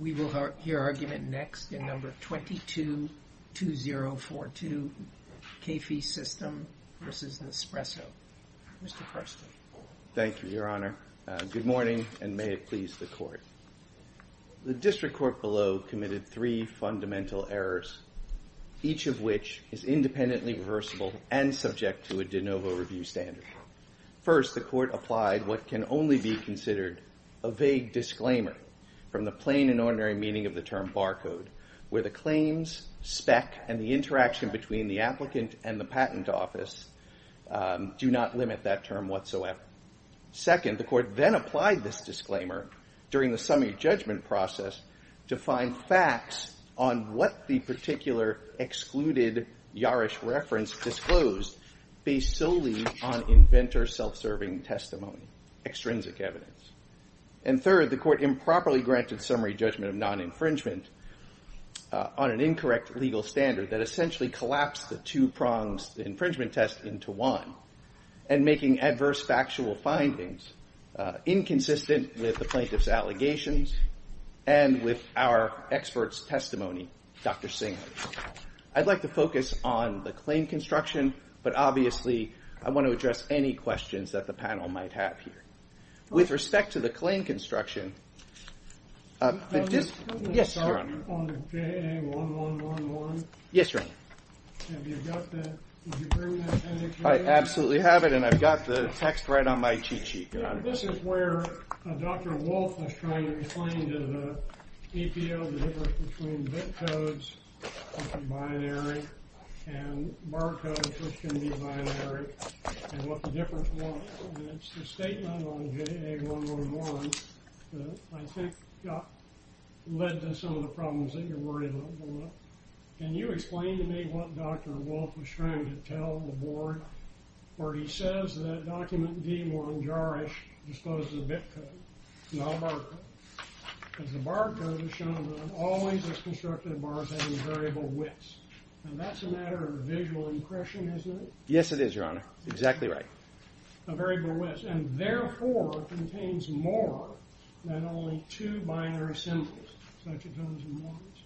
We will hear argument next in number 22-2042, K-fee System v. Nespresso. Mr. Karsten. Thank you, Your Honor. Good morning, and may it please the court. The district court below committed three fundamental errors, each of which is independently reversible and subject to a de novo review standard. First, the court applied what can only be considered a vague disclaimer from the plain and ordinary meaning of the term barcode, where the claims, spec, and the interaction between the applicant and the patent office do not limit that term whatsoever. Second, the court then applied this disclaimer during the summary judgment process to find facts on what the particular excluded Yarish reference disclosed based solely on inventor self-serving testimony, extrinsic evidence. And third, the court improperly granted summary judgment of non-infringement on an incorrect legal standard that essentially collapsed the two prongs infringement test into one, and making adverse factual findings inconsistent with the plaintiff's allegations and with our expert's testimony, Dr. Singer. I'd like to focus on the claim construction, but obviously I want to address any questions that the panel might have here. With respect to the claim construction, but this, yes, your honor. On the JA1111. Yes, your honor. Have you got the, did you bring that appendix? I absolutely have it, and I've got the text right on my cheat sheet, your honor. This is where Dr. Wolfe was trying to explain to the APL the difference between bit codes, which are binary, and barcodes, which can be binary, and what the difference was. It's the statement on JA1111 that I think led to some of the problems that you're worried about going up. Can you explain to me what Dr. Wolfe was trying to tell the board where he says that document D1 jar-ish discloses a bit code, not a barcode. Because the barcode has shown that an always as constructive bar is having variable widths. And that's a matter of visual impression, isn't it? Yes, it is, your honor. Exactly right. A variable width, and therefore, contains more than only two binary symbols, such as ones and ones.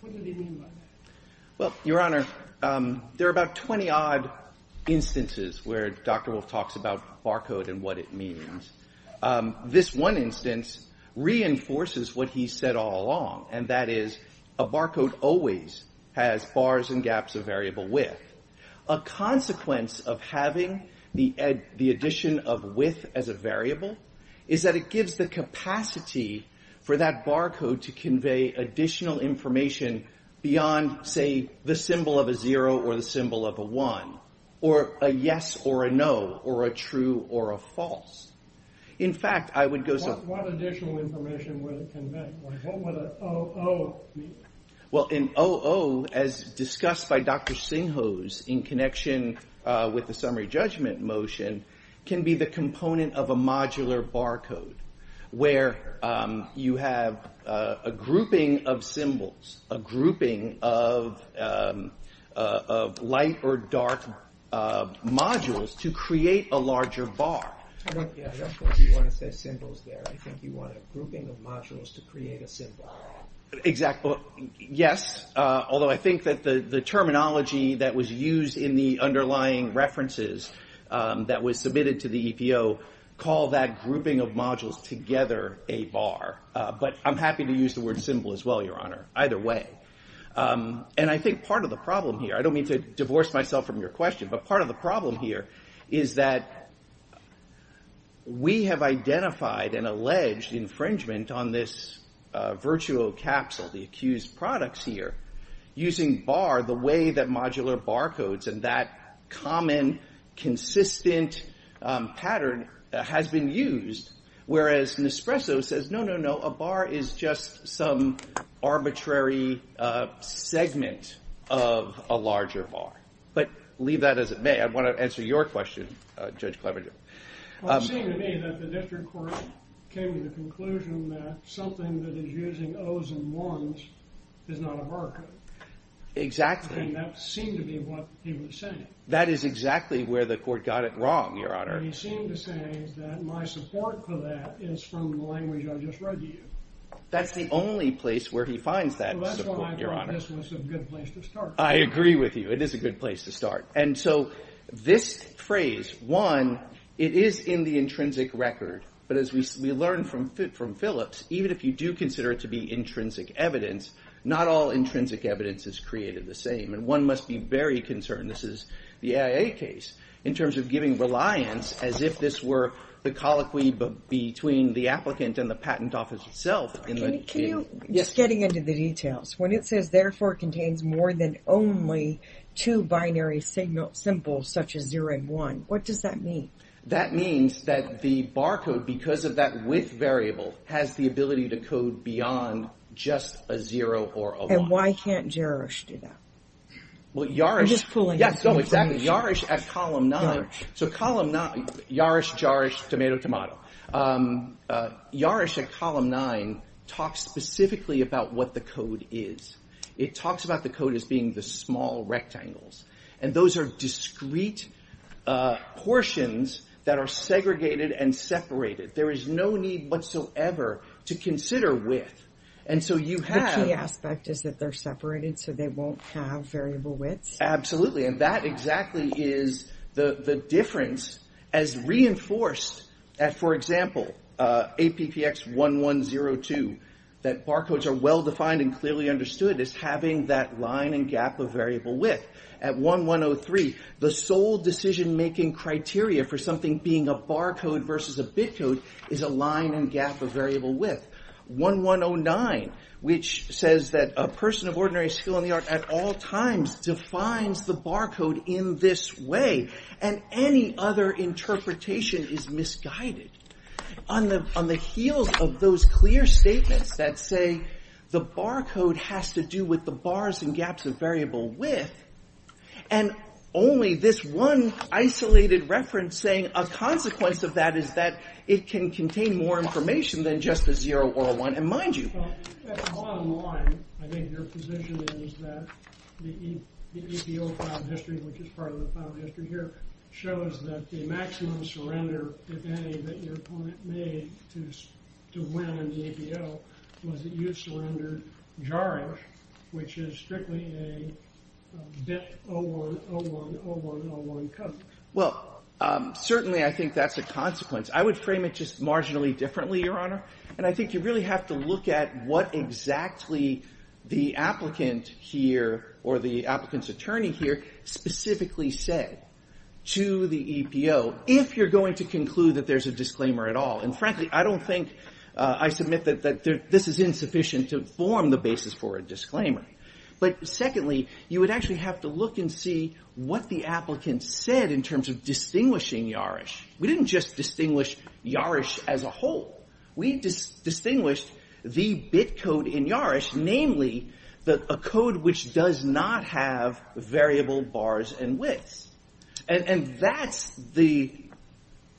What did he mean by that? Well, your honor, there are about 20 odd instances where Dr. Wolfe talks about barcode and what it means. This one instance reinforces what he said all along, and that is a barcode always has bars and gaps of variable width. A consequence of having the addition of width as a variable is that it gives the capacity for that barcode to convey additional information beyond, say, the symbol of a zero or the symbol of a one, or a yes or a no, or a true or a false. In fact, I would go so. What additional information would it convey, like what would an OO mean? Well, an OO, as discussed by Dr. Sinhos in connection with the summary judgment motion, can be the component of a modular barcode, where you have a grouping of symbols, a grouping of light or dark modules to create a larger bar. Yeah, I don't think you want to say symbols there. I think you want a grouping of modules to create a symbol. Exactly. Yes, although I think that the terminology that was used in the underlying references that was submitted to the EPO call that grouping of modules together a bar. But I'm happy to use the word symbol as well, Your Honor, either way. And I think part of the problem here, I don't mean to divorce myself from your question, but part of the problem here is that we have identified an alleged infringement on this virtuo capsule, the accused products here, using bar the way that modular barcodes and that common consistent pattern has been used. Whereas Nespresso says, no, no, no, a bar is just some arbitrary segment of a larger bar. But leave that as it may. I want to answer your question, Judge Cleaver. Well, it seemed to me that the district court came to the conclusion that something that is using O's and 1's is not a barcode. Exactly. And that seemed to be what he was saying. That is exactly where the court got it wrong, Your Honor. He seemed to say that my support for that is from the language I just read to you. That's the only place where he finds that support, Your Honor. So that's why I thought this was a good place to start. I agree with you. It is a good place to start. And so this phrase, one, it is in the intrinsic record. But as we learned from Phillips, even if you do consider it to be intrinsic evidence, not all intrinsic evidence is created the same. And one must be very concerned, this is the AIA case, in terms of giving reliance as if this were the colloquy between the applicant and the patent office itself. Can you, just getting into the details, when it says therefore contains more than only two binary symbols such as 0 and 1, what does that mean? That means that the barcode, because of that width variable, has the ability to code beyond just a 0 or a 1. And why can't JARISH do that? Well, JARISH at column 9. So JARISH, JARISH, tomato, tomato. JARISH at column 9 talks specifically about what the code is. It talks about the code as being the small rectangles. And those are discrete portions that are segregated and separated. There is no need whatsoever to consider width. And so you have- The key aspect is that they're separated, so they won't have variable widths? Absolutely. And that exactly is the difference as reinforced at, for example, APPX1102, that barcodes are well-defined and clearly understood as having that line and gap of variable width. At 1.103, the sole decision-making criteria for something being a barcode versus a bitcode is a line and gap of variable width. 1.109, which says that a person of ordinary skill in the art at all times defines the barcode in this way, and any other interpretation is misguided. On the heels of those clear statements that say the barcode has to do with the bars and gaps of variable width, and only this one isolated reference saying a consequence of that is that it can contain more information than just a 0 or a 1. And mind you, at the bottom line, I think your position is that the APO file history, which is part of the file history here, shows that the maximum surrender, if any, that your opponent made to win in the APO was a user under JARG, which is strictly a bit 01010101 code. Well, certainly I think that's a consequence. I would frame it just marginally differently, Your Honor. And I think you really have to look at what exactly the applicant here, or the applicant's attorney here, specifically said to the EPO if you're going to conclude that there's a disclaimer at all. And frankly, I don't think I submit that this is insufficient to form the basis for a disclaimer. But secondly, you would actually have to look and see what the applicant said in terms of distinguishing YARISH. We didn't just distinguish YARISH as a whole. We distinguished the bit code in YARISH, namely a code which does not have variable bars and widths. And that's the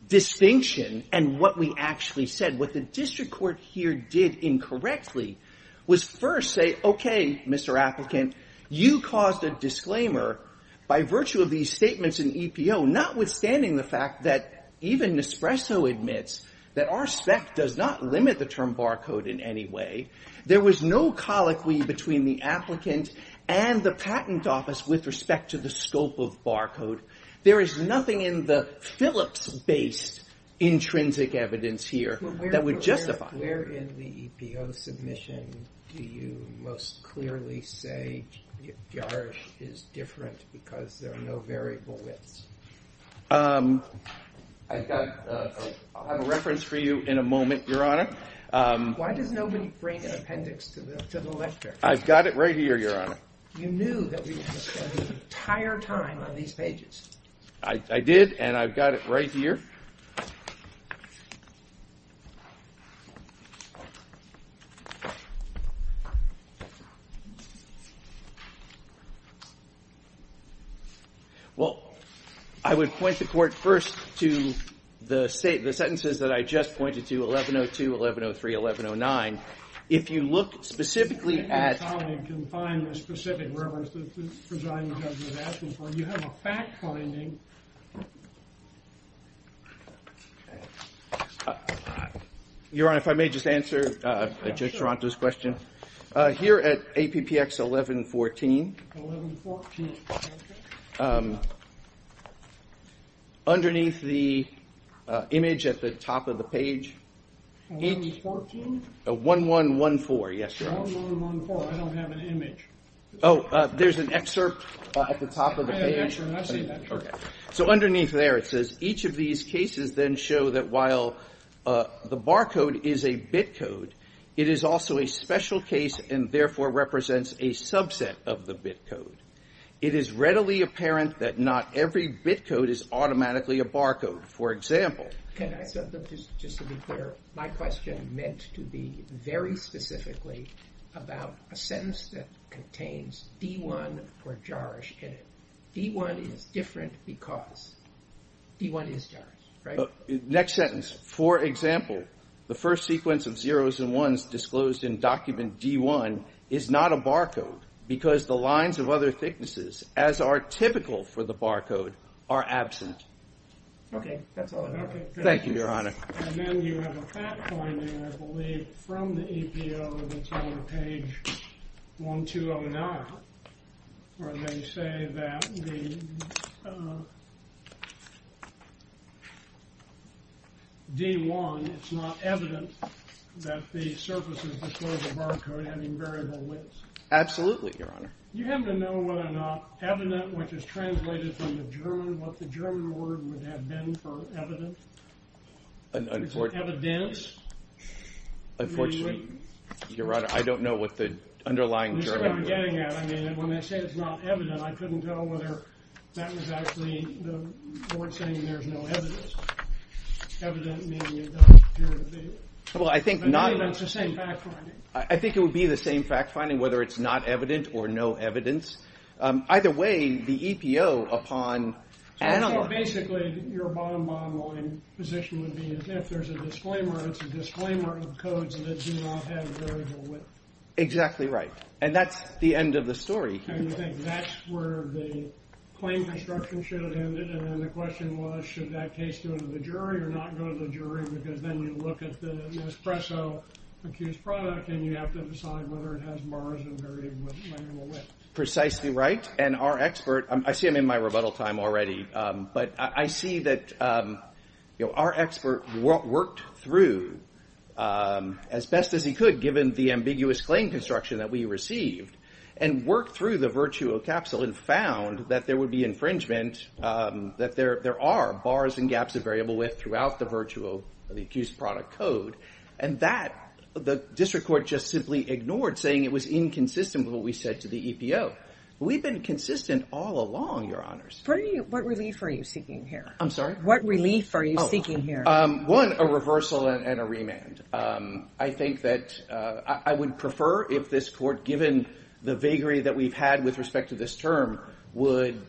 distinction and what we actually said. What the district court here did incorrectly was first say, OK, Mr. Applicant, you caused a disclaimer by virtue of these statements in EPO, notwithstanding the fact that even Nespresso admits that our spec does not limit the term barcode in any way. There was no colloquy between the applicant and the patent office with respect to the scope of barcode. There is nothing in the Phillips-based intrinsic evidence here that would justify it. Where in the EPO submission do you most clearly say YARISH is different because there are no variable widths? I've got a reference for you in a moment, Your Honor. Why does nobody bring an appendix to the lecture? I've got it right here, Your Honor. You knew that we would spend the entire time on these pages. I did, and I've got it right here. Thank you. Well, I would point the court first to the sentences that I just pointed to, 1102, 1103, 1109. If you look specifically at- I think my colleague can find the specific reference that the presiding judge was asking for. You have a fact finding. Your Honor, if I may just answer Judge Taranto's question. Here at APPX 1114, underneath the image at the top of the page, 1114, yes, Your Honor. 1114, I don't have an image. Oh, there's an excerpt at the top of the page. I didn't answer, and I've seen that. So underneath there, it says, each of these cases then show that while the barcode is a bitcode, it is also a special case, and therefore represents a subset of the bitcode. It is readily apparent that not every bitcode is automatically a barcode. For example- Can I say, just to be clear, my question meant to be very specifically about a sentence that contains D1 for jarge in it. D1 is different because D1 is jarge, right? Next sentence, for example, the first sequence of 0's and 1's disclosed in document D1 is not a barcode, because the lines of other thicknesses, as are typical for the barcode, are absent. OK, that's all I have. Thank you, Your Honor. And then you have a fact finding, I believe, from the APO that's on page 1209, where they say that the D1, it's not evident that the surface is disclosed as a barcode having variable widths. Absolutely, Your Honor. You happen to know whether or not evident, which is translated from the German, what the German word would have been for evident? An unfort- Unfortunately, Your Honor, I don't know what the underlying German word is. I mean, when they say it's not evident, I couldn't tell whether that was actually the board saying there's no evidence. Evident meaning it doesn't appear to be. Well, I think not- But maybe that's the same fact finding. I think it would be the same fact finding, whether it's not evident or no evidence. Either way, the EPO, upon analyzing- So basically, your bottom line position would be if there's a disclaimer, it's a disclaimer of codes that do not have variable width. Exactly right. And that's the end of the story. I think that's where the claim construction should have ended. And then the question was, should that case go to the jury or not go to the jury? Because then you look at the Nespresso-accused product, and you have to decide whether it has bars and variable widths. Precisely right. And our expert, I see him in my rebuttal time already, but I see that our expert worked through as best as he could, given the ambiguous claim construction that we received, and worked through the Virtuo capsule and found that there would be infringement, that there are bars and gaps of variable width throughout the Virtuo, the accused product code. And that, the district court just simply ignored, saying it was inconsistent with what we said to the EPO. We've been consistent all along, your honors. What relief are you seeking here? I'm sorry? What relief are you seeking here? One, a reversal and a remand. I think that I would prefer if this court, given the vagary that we've had with respect to this term, would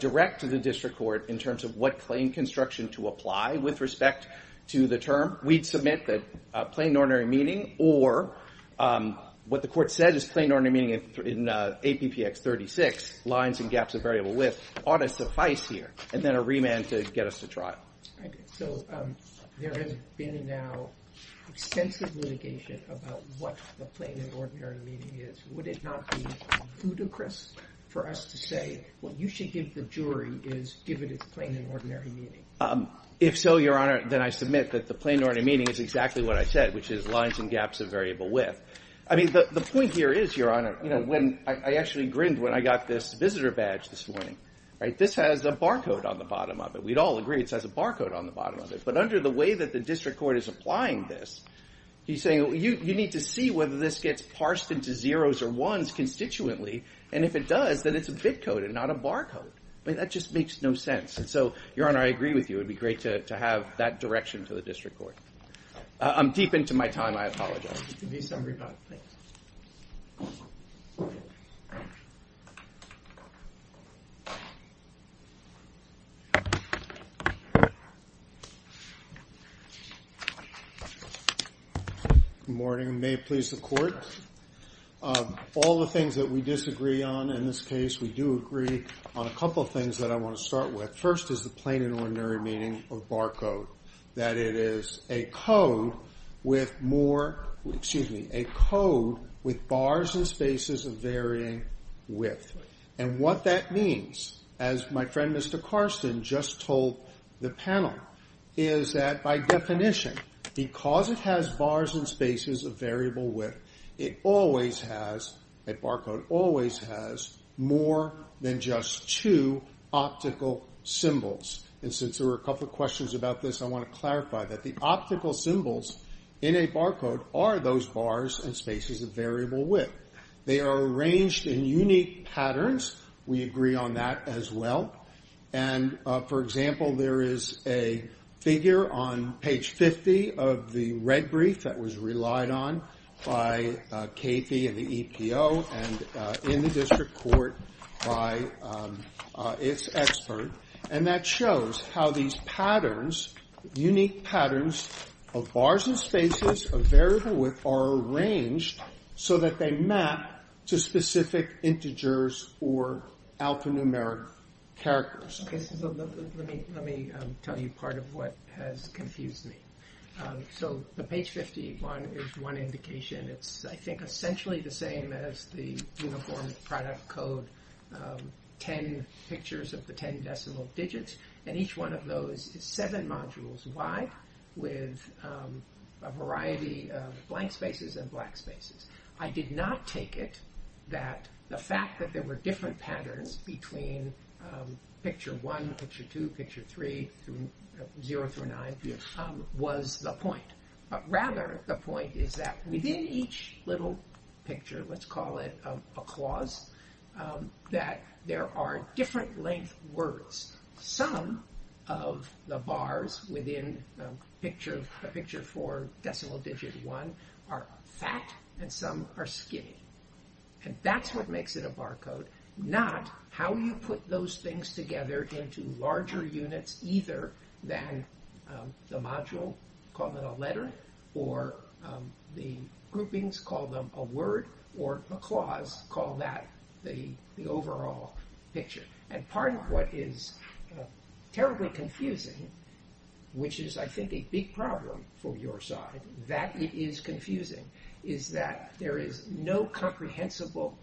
direct to the district court in terms of what claim construction to apply with respect to the term. We'd submit that plain and ordinary meaning, or what the court said is plain and ordinary meaning in APPX 36, lines and gaps of variable width, ought to suffice here, and then a remand to get us to trial. So there has been now extensive litigation about what the plain and ordinary meaning is. Would it not be ludicrous for us to say, what you should give the jury is, give it its plain and ordinary meaning? If so, your honor, then I submit that the plain and ordinary meaning is exactly what I said, which is lines and gaps of variable width. I mean, the point here is, your honor, I actually grinned when I got this visitor badge this morning. This has a barcode on the bottom of it. We'd all agree it has a barcode on the bottom of it. But under the way that the district court is applying this, he's saying, you need to see whether this gets parsed into zeros or ones constituently. And if it does, then it's a bit code and not a barcode. That just makes no sense. And so, your honor, I agree with you. It would be great to have that direction to the district court. I'm deep into my time. I apologize. It can be summarized. Thanks. Thank you. Good morning. May it please the court. All the things that we disagree on in this case, we do agree on a couple of things that I want to start with. First is the plain and ordinary meaning of barcode, that it is a code with more, excuse me, a code with bars and spaces of varying width. And what that means, as my friend Mr. Carson just told the panel, is that by definition, because it has bars and spaces of variable width, it always has, a barcode always has, more than just two optical symbols. And since there were a couple of questions about this, I want to clarify that the optical symbols in a barcode are those bars and spaces of variable width. They are arranged in unique patterns. We agree on that as well. And for example, there is a figure on page 50 of the red brief that was relied on by KP and the EPO and in the district court by its expert. And that shows how these patterns, unique patterns of bars and spaces of variable width are arranged so that they map to specific integers or alphanumeric characters. Let me tell you part of what has confused me. So the page 51 is one indication. It's, I think, essentially the same as the Uniform Product Code, 10 pictures of the 10 decimal digits. And each one of those is seven modules wide with a variety of blank spaces and black spaces. I did not take it that the fact that there were different patterns between picture one, picture two, picture three, zero through nine was the point. Rather, the point is that within each little picture, let's call it a clause, that there are different length words. Some of the bars within picture four, decimal digit one, are fat and some are skinny. And that's what makes it a bar code, not how you put those things together into larger units, either than the module, call it a letter, or the groupings, call them a word, or a clause, call that the overall picture. And part of what is terribly confusing, which is, I think, a big problem for your side, that it is confusing, is that there is no comprehensible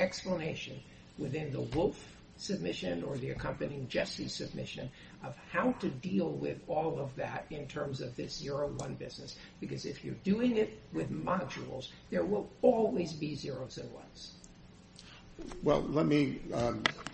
explanation within the Wolf submission or the accompanying Jesse submission of how to deal with all of that in terms of this zero one business. Because if you're doing it with modules, there will always be zeros and ones. Well, let me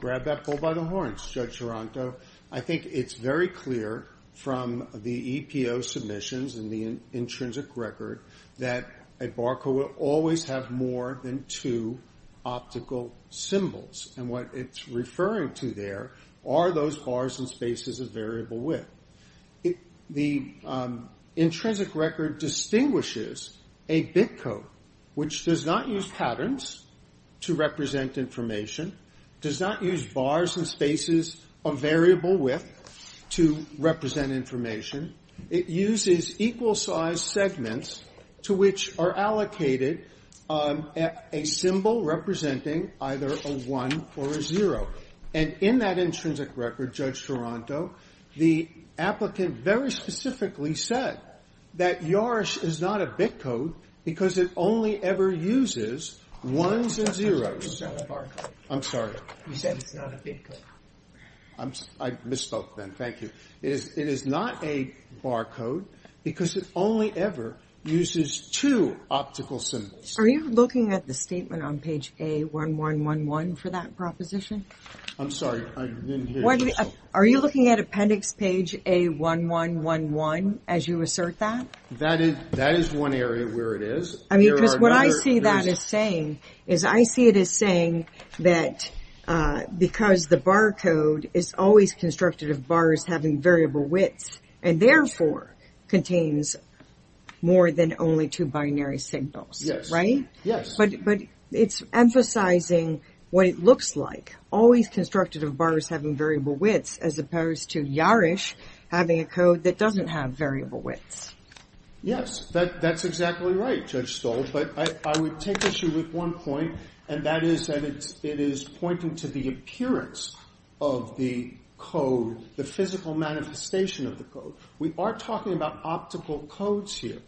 grab that bull by the horns, Judge Taranto. I think it's very clear from the EPO submissions and the intrinsic record that a bar code will always have more than two optical symbols. And what it's referring to there are those bars and spaces of variable width. The intrinsic record distinguishes a bit code, which does not use patterns to represent information, does not use bars and spaces of variable width to represent information. It uses equal size segments to which are allocated a symbol representing either a one or a zero. And in that intrinsic record, Judge Taranto, the applicant very specifically said that YARSH is not a bit code because it only ever uses ones and zeros. I'm sorry. You said it's not a bit code. I misspoke then. Thank you. It is not a bar code because it only ever uses two optical symbols. Are you looking at the statement on page A1111 for that proposition? I'm sorry. I didn't hear you. Are you looking at appendix page A1111 as you assert that? That is one area where it is. I mean, because what I see that as saying is I see it as saying that because the bar code is always constructed of bars having variable widths and therefore contains more than only two binary signals, right? Yes. But it's emphasizing what it looks like, always constructed of bars having variable widths, as opposed to YARSH having a code that doesn't have variable widths. Yes, that's exactly right, Judge Stolz. But I would take issue with one point, and that is that it is pointing to the appearance of the code, the physical manifestation of the code. We are talking about optical codes here.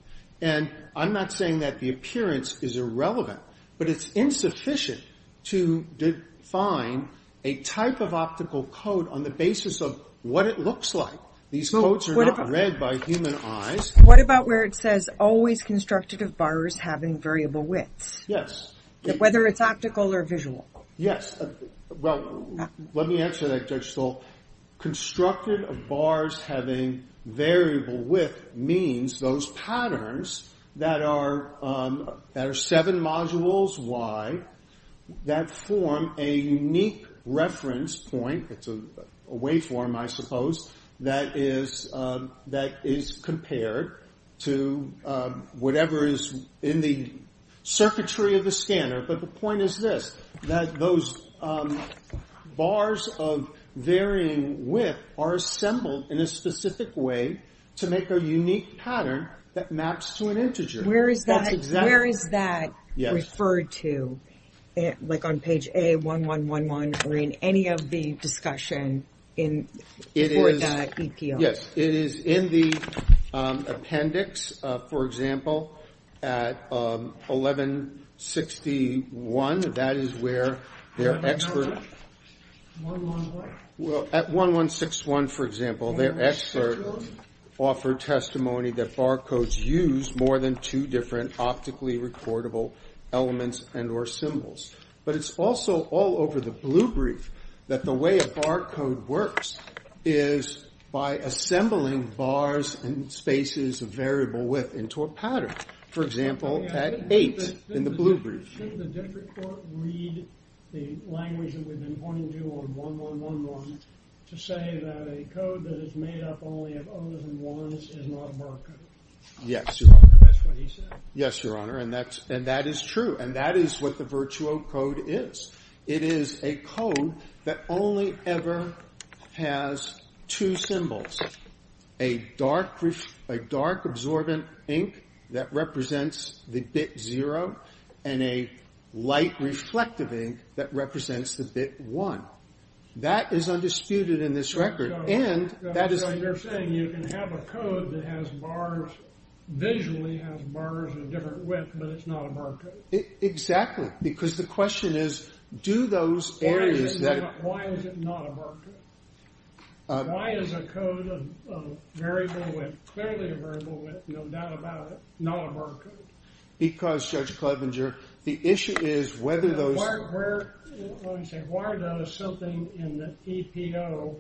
And I'm not saying that the appearance is irrelevant, but it's insufficient to define a type of optical code on the basis of what it looks like. These codes are not read by human eyes. What about where it says always constructed of bars having variable widths? Yes. Whether it's optical or visual. Yes. Well, let me answer that, Judge Stolz. Constructed of bars having variable width means those patterns that are seven modules wide that form a unique reference point. It's a waveform, I suppose, that is compared to whatever is in the circuitry of the scanner. But the point is this, that those bars of varying width are assembled in a specific way to make a unique pattern that maps to an integer. Where is that referred to? Like on page A1111 or in any of the discussion for that EPR? Yes, it is in the appendix. For example, at 1161, that is where their expert. How about 111? Well, at 1161, for example, their expert offered testimony that barcodes use more than two different optically recordable elements and or symbols. But it's also all over the blue brief that the way a barcode works is by assembling bars and spaces of variable width into a pattern. For example, at 8 in the blue brief. Shouldn't the district court read the language that we've been pointing to on 1111 to say that a code that is made up only of 0's and 1's is not a barcode? Yes, Your Honor. That's what he said. Yes, Your Honor, and that is true. And that is what the virtuo code is. It is a code that only ever has two symbols, a dark absorbent ink that represents the bit 0 and a light reflective ink that represents the bit 1. That is undisputed in this record. And that is what you're saying. You can have a code that visually has bars of different width, but it's not a barcode. Exactly, because the question is, do those areas that are Why is it not a barcode? Why is a code of variable width, clearly a variable width, no doubt about it, not a barcode? Because, Judge Clevenger, the issue is whether those Why are those something in the EPO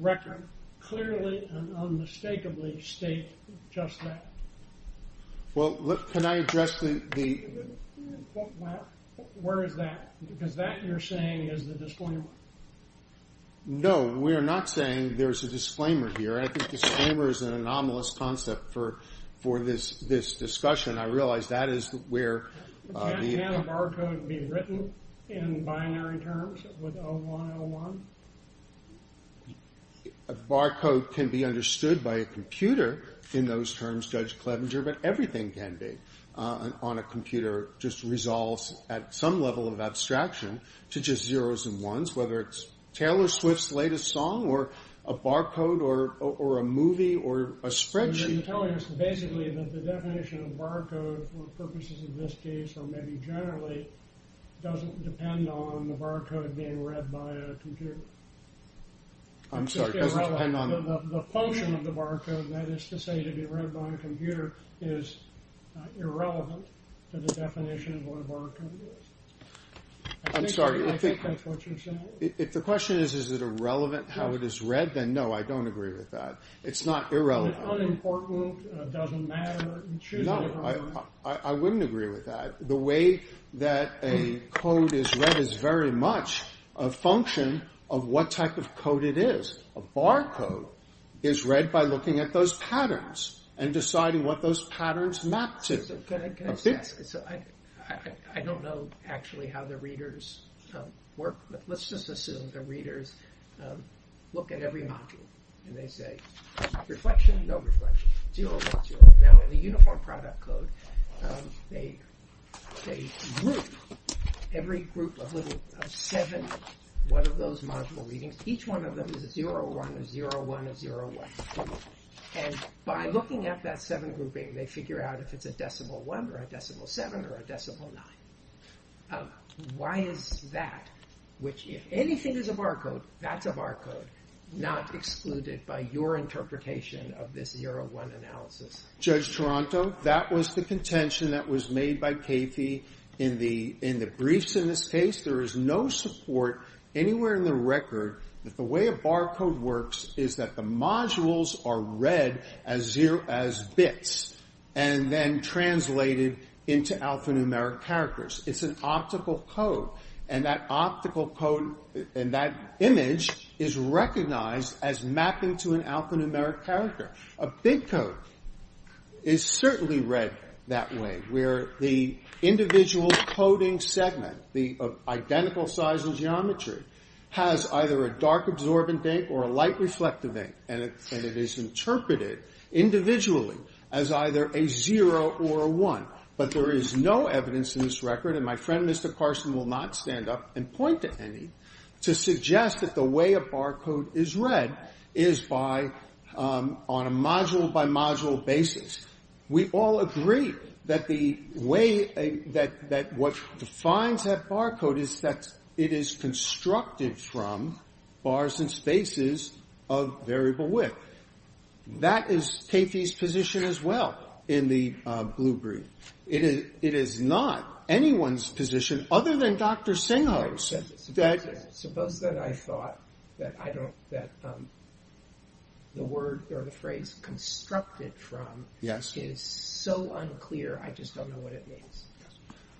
record? Clearly and unmistakably state just that. Well, look, can I address the Where is that? Because that, you're saying, is the disclaimer. No, we're not saying there's a disclaimer here. I think disclaimer is an anomalous concept for this discussion. I realize that is where Can a barcode be written in binary terms with 0101? A barcode can be understood by a computer in those terms, Judge Clevenger, but everything can be on a computer, just resolves at some level of abstraction to just zeros and ones, whether it's Taylor Swift's latest song or a barcode or a movie or a spreadsheet. You're telling us basically that the definition of barcode for purposes of this case or maybe generally doesn't depend on the barcode being read by a computer. I'm sorry, doesn't depend on the function of the barcode, and that is to say to be read by a computer is irrelevant to the definition of what a barcode is. I'm sorry, I think that's what you're saying. If the question is, is it irrelevant how it is read, then no, I don't agree with that. It's not irrelevant. Unimportant, doesn't matter, you choose whatever you want. I wouldn't agree with that. The way that a code is read is very much a function of what type of code it is. A barcode is read by looking at those patterns and deciding what those patterns map to. So I don't know actually how the readers work, but let's just assume the readers look at every module, and they say, reflection, no reflection, 0, 1, 0. Now, in the uniform product code, they group every group of seven, one of those module readings. Each one of them is a 0, 1, a 0, 1, a 0, 1. And by looking at that seven grouping, they figure out if it's a decimal one, or a decimal seven, or a decimal nine. Why is that, which if anything is a barcode, that's a barcode, not excluded by your interpretation of this 0, 1 analysis? Judge Toronto, that was the contention that was made by Kathy in the briefs in this case. There is no support anywhere in the record that the way a barcode works is that the modules are read as bits, and then translated into alphanumeric characters. It's an optical code. And that optical code, and that image, is recognized as mapping to an alphanumeric character. A big code is certainly read that way, where the individual coding segment, the identical size and geometry, has either a dark absorbent ink or a light reflective ink. And it is interpreted individually as either a 0 or a 1. But there is no evidence in this record, and my friend Mr. Carson will not stand up and point to any, to suggest that the way a barcode is read is on a module by module basis. We all agree that what defines that barcode is that it is constructed from bars and spaces of variable width. That is Kathy's position as well in the blue brief. It is not anyone's position, other than Dr. Singho's. Suppose that I thought that the word or the phrase constructed from is so unclear, I just don't know what it means.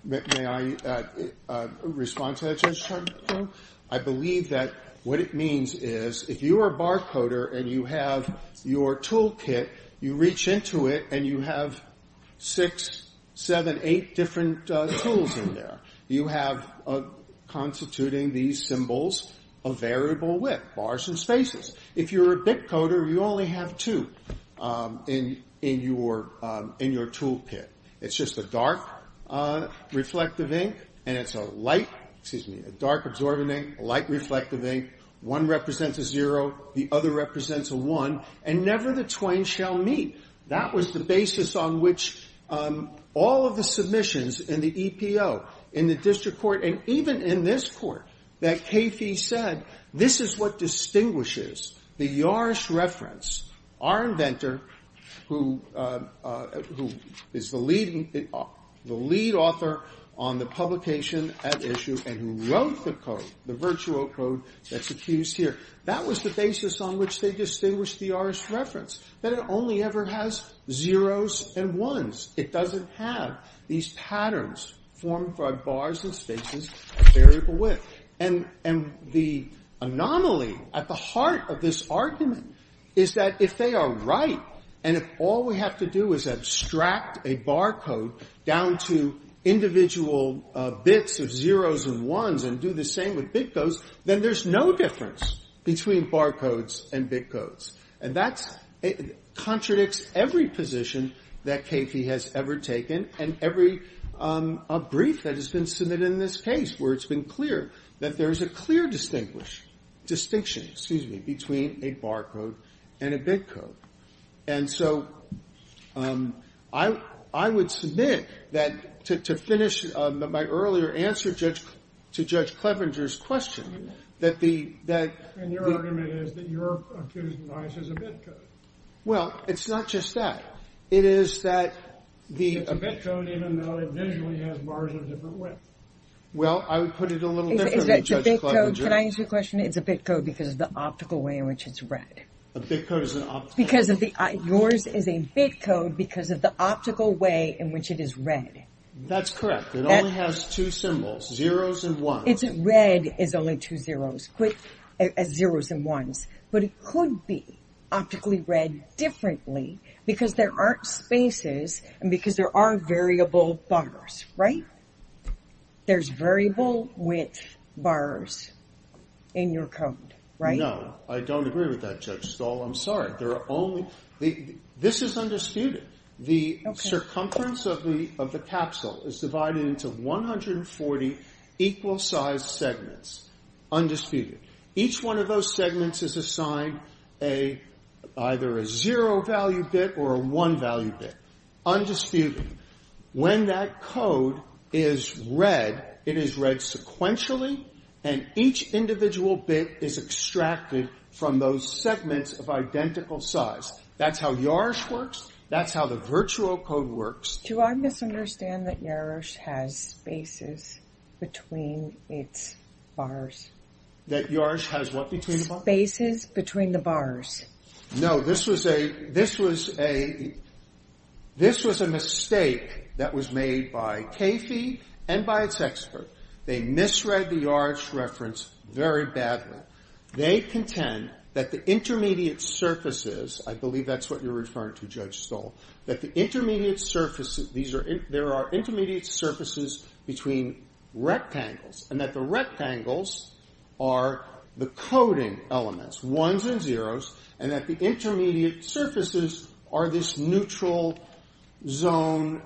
May I respond to that, Judge Charnow? I believe that what it means is, if you are a barcoder and you have your toolkit, you reach into it and you have six, seven, eight different tools in there. You have, constituting these symbols, a variable width, bars and spaces. If you're a bitcoder, you only have two in your toolkit. It's just a dark reflective ink, and it's a light, excuse me, a dark absorbent ink, a light reflective ink. One represents a 0, the other represents a 1, and never the twain shall meet. That was the basis on which all of the submissions in the EPO, in the district court, and even in this court, that Caffey said, this is what distinguishes the Yarish reference. Our inventor, who is the lead author on the publication at issue and who wrote the code, the virtual code that's accused here, that was the basis on which they distinguished the Yarish reference, that it only ever has 0's and 1's. It doesn't have these patterns formed by bars and spaces or variable width. And the anomaly at the heart of this argument is that if they are right, and if all we have to do is abstract a barcode down to individual bits of 0's and 1's and do the same with bitcodes, then there's no difference between barcodes and bitcodes. And that contradicts every position that Caffey has ever taken and every brief that has been submitted in this case, where it's been clear that there is a clear distinction between a barcode and a bitcode. And so I would submit that, to finish my earlier answer to Judge Clevenger's question, that the that the And your argument is that you're accusing Yarish as a bitcode. Well, it's not just that. It is that the It's a bitcode even though it visually has bars of a different width. Well, I would put it a little differently, Judge Clevenger. Can I ask you a question? It's a bitcode because of the optical way in which it's read. A bitcode is an optical way. Yours is a bitcode because of the optical way in which it is read. That's correct. It only has two symbols, 0's and 1's. Red is only two 0's, 0's and 1's. But it could be optically read differently because there aren't spaces and because there aren't variable bars, right? There's variable width bars in your code, right? No, I don't agree with that, Judge Stahl. I'm sorry. There are only, this is undisputed. The circumference of the capsule is divided into 140 equal sized segments, undisputed. Each one of those segments is assigned a either a 0 value bit or a 1 value bit, undisputed. When that code is read, it is read sequentially, and each individual bit is extracted from those segments of identical size. That's how YARSH works. That's how the virtual code works. Do I misunderstand that YARSH has spaces between its bars? That YARSH has what between the bars? Bases between the bars. No, this was a mistake that was made by CAFE and by its expert. They misread the YARSH reference very badly. They contend that the intermediate surfaces, I believe that's what you're referring to, Judge Stahl, that the intermediate surfaces, there are intermediate surfaces between rectangles, and that the rectangles are the coding elements, 1's and 0's, and that the intermediate surfaces are this neutral zone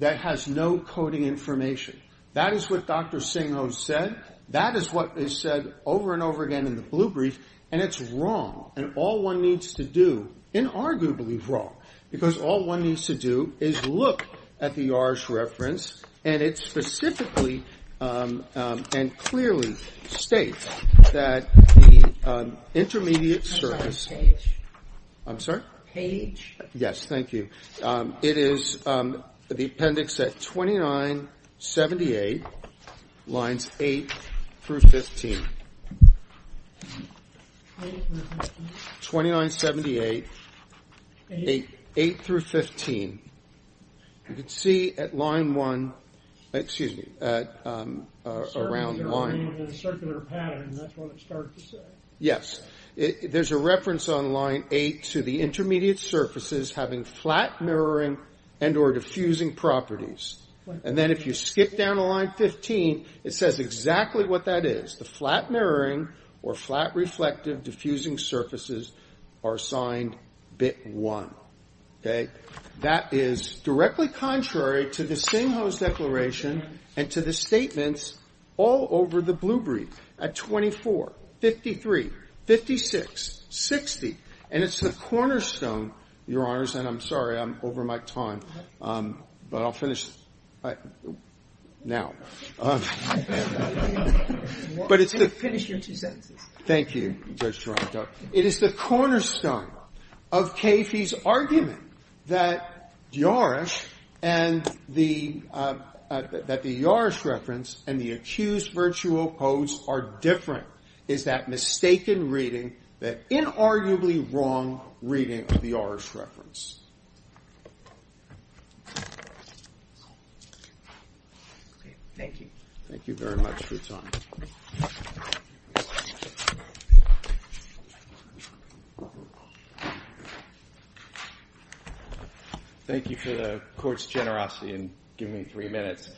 that has no coding information. That is what Dr. Singho said. That is what is said over and over again in the blue brief, and it's wrong. And all one needs to do, inarguably wrong, because all one needs to do is look at the YARSH reference, and it specifically and clearly states that the intermediate surface, I'm sorry? Page. Yes, thank you. It is the appendix at 2978, lines 8 through 15. 2978, 8 through 15. You can see at line 1, excuse me, around line. Circular pattern, that's what it starts to say. Yes. There's a reference on line 8 to the intermediate surfaces having flat mirroring and or diffusing properties. And then if you skip down to line 15, it says exactly what that is. The flat mirroring or flat reflective diffusing surfaces are assigned bit 1. OK? That is directly contrary to the Singho's declaration and to the statements all over the blue brief at 24, 53, 56, 60. And it's the cornerstone, Your Honors, and I'm sorry, I'm over my time. But I'll finish now. All right. But it's the finish your two sentences. Thank you, Judge Taranto. It is the cornerstone of Caffey's argument that the Yorish reference and the accused virtual codes are different. It's that mistaken reading, that inarguably wrong reading of the Yorish reference. Thank you. Thank you very much for your time. Thank you. Thank you for the court's generosity in giving me three minutes.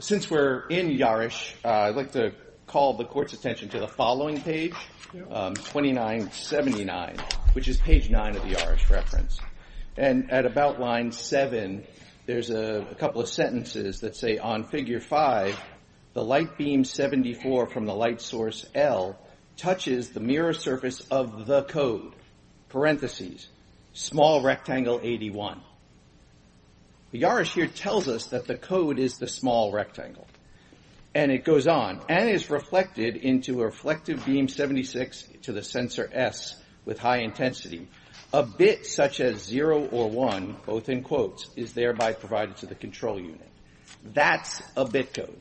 Since we're in Yorish, I'd like to call the court's attention to the following page, 2979, which is page 9 of the Yorish reference. And at about line 7, there's a couple of sentences that say, on figure 5, the light beam 74 from the light source L touches the mirror surface of the code, parentheses, small rectangle 81. The Yorish here tells us that the code is the small rectangle. And it goes on, and is reflected into a reflective beam 76 to the sensor S with high intensity. A bit such as 0 or 1, both in quotes, is thereby provided to the control unit. That's a bit code.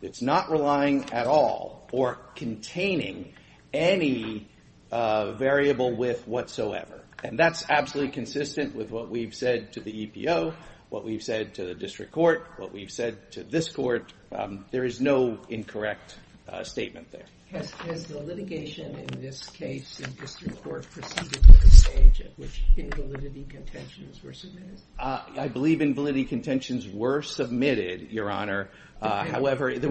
It's not relying at all or containing any variable with whatsoever. And that's absolutely consistent with what we've said to the EPO, what we've said to the district court, what we've said to this court. There is no incorrect statement there. Has the litigation in this case in district court proceeded to the stage at which invalidity contentions were submitted? I believe invalidity contentions were submitted, Your Honor. Dependent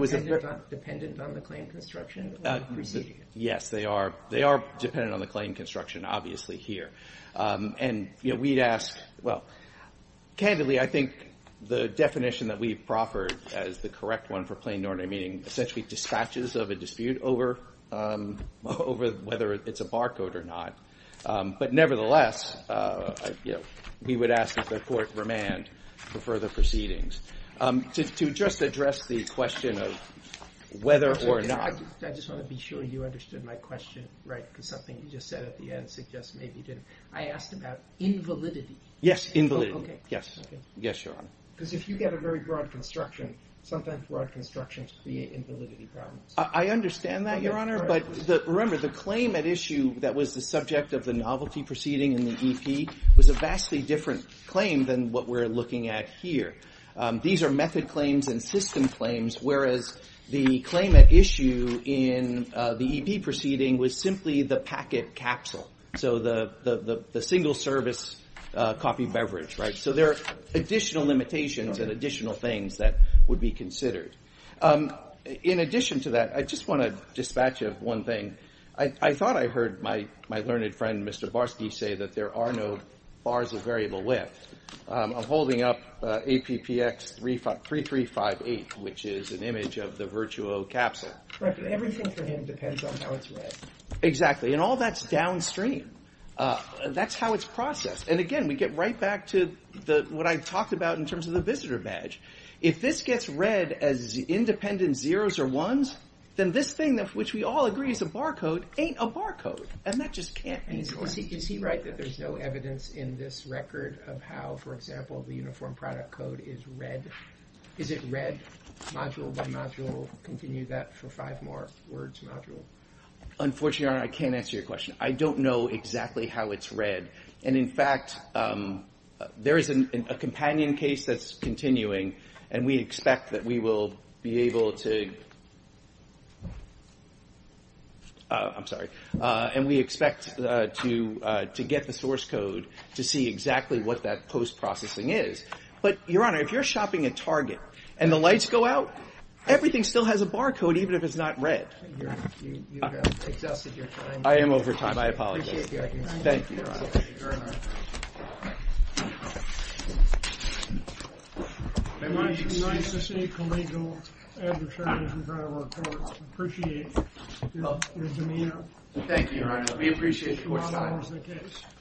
on the claim construction or proceeding? Yes, they are dependent on the claim construction, obviously, here. And we'd ask, well, candidly, I think the definition that we proffered as the correct one for plain ordinary meaning essentially dispatches of a dispute over whether it's a barcode or not. But nevertheless, we would ask that the court remand for further proceedings. To just address the question of whether or not. I just want to be sure you understood my question, right? Because something you just said at the end suggests maybe didn't. I asked about invalidity. Yes, invalidity. Yes. Yes, Your Honor. Because if you get a very broad construction, sometimes broad constructions create invalidity problems. I understand that, Your Honor. But remember, the claim at issue that was the subject of the novelty proceeding in the EP was a vastly different claim than what we're looking at here. These are method claims and system claims, whereas the claim at issue in the EP proceeding was simply the packet capsule. So the single service coffee beverage, right? So there are additional limitations and additional things that would be considered. In addition to that, I just want to dispatch of one thing. I thought I heard my learned friend, Mr. Barsky, say that there are no bars of variable width. I'm holding up APPX 3358, which is an image of the Virtuo capsule. Correct. Everything for him depends on how it's read. Exactly. And all that's downstream. That's how it's processed. And again, we get right back to what I talked about in terms of the visitor badge. If this gets read as independent zeros or ones, then this thing, which we all agree is a barcode, ain't a barcode. And that just can't be correct. Is he right that there's no evidence in this record of how, for example, the uniform product code is read? Is it read module by module? Continue that for five more words, module. Unfortunately, Your Honor, I can't answer your question. I don't know exactly how it's read. And in fact, there is a companion case that's continuing. And we expect that we will be able to, I'm sorry. And we expect to get the source code to see exactly what that post-processing is. But Your Honor, if you're shopping at Target and the lights go out, everything still has a barcode, even if it's not read. Thank you. You've exhausted your time. I am over time. I apologize. I appreciate the argument. Thank you, Your Honor. Thank you very much. I want to recognize the state collegial and the chairman of the trial court. I appreciate your demeanor. Thank you, Your Honor. We appreciate your time. You've exhausted the case.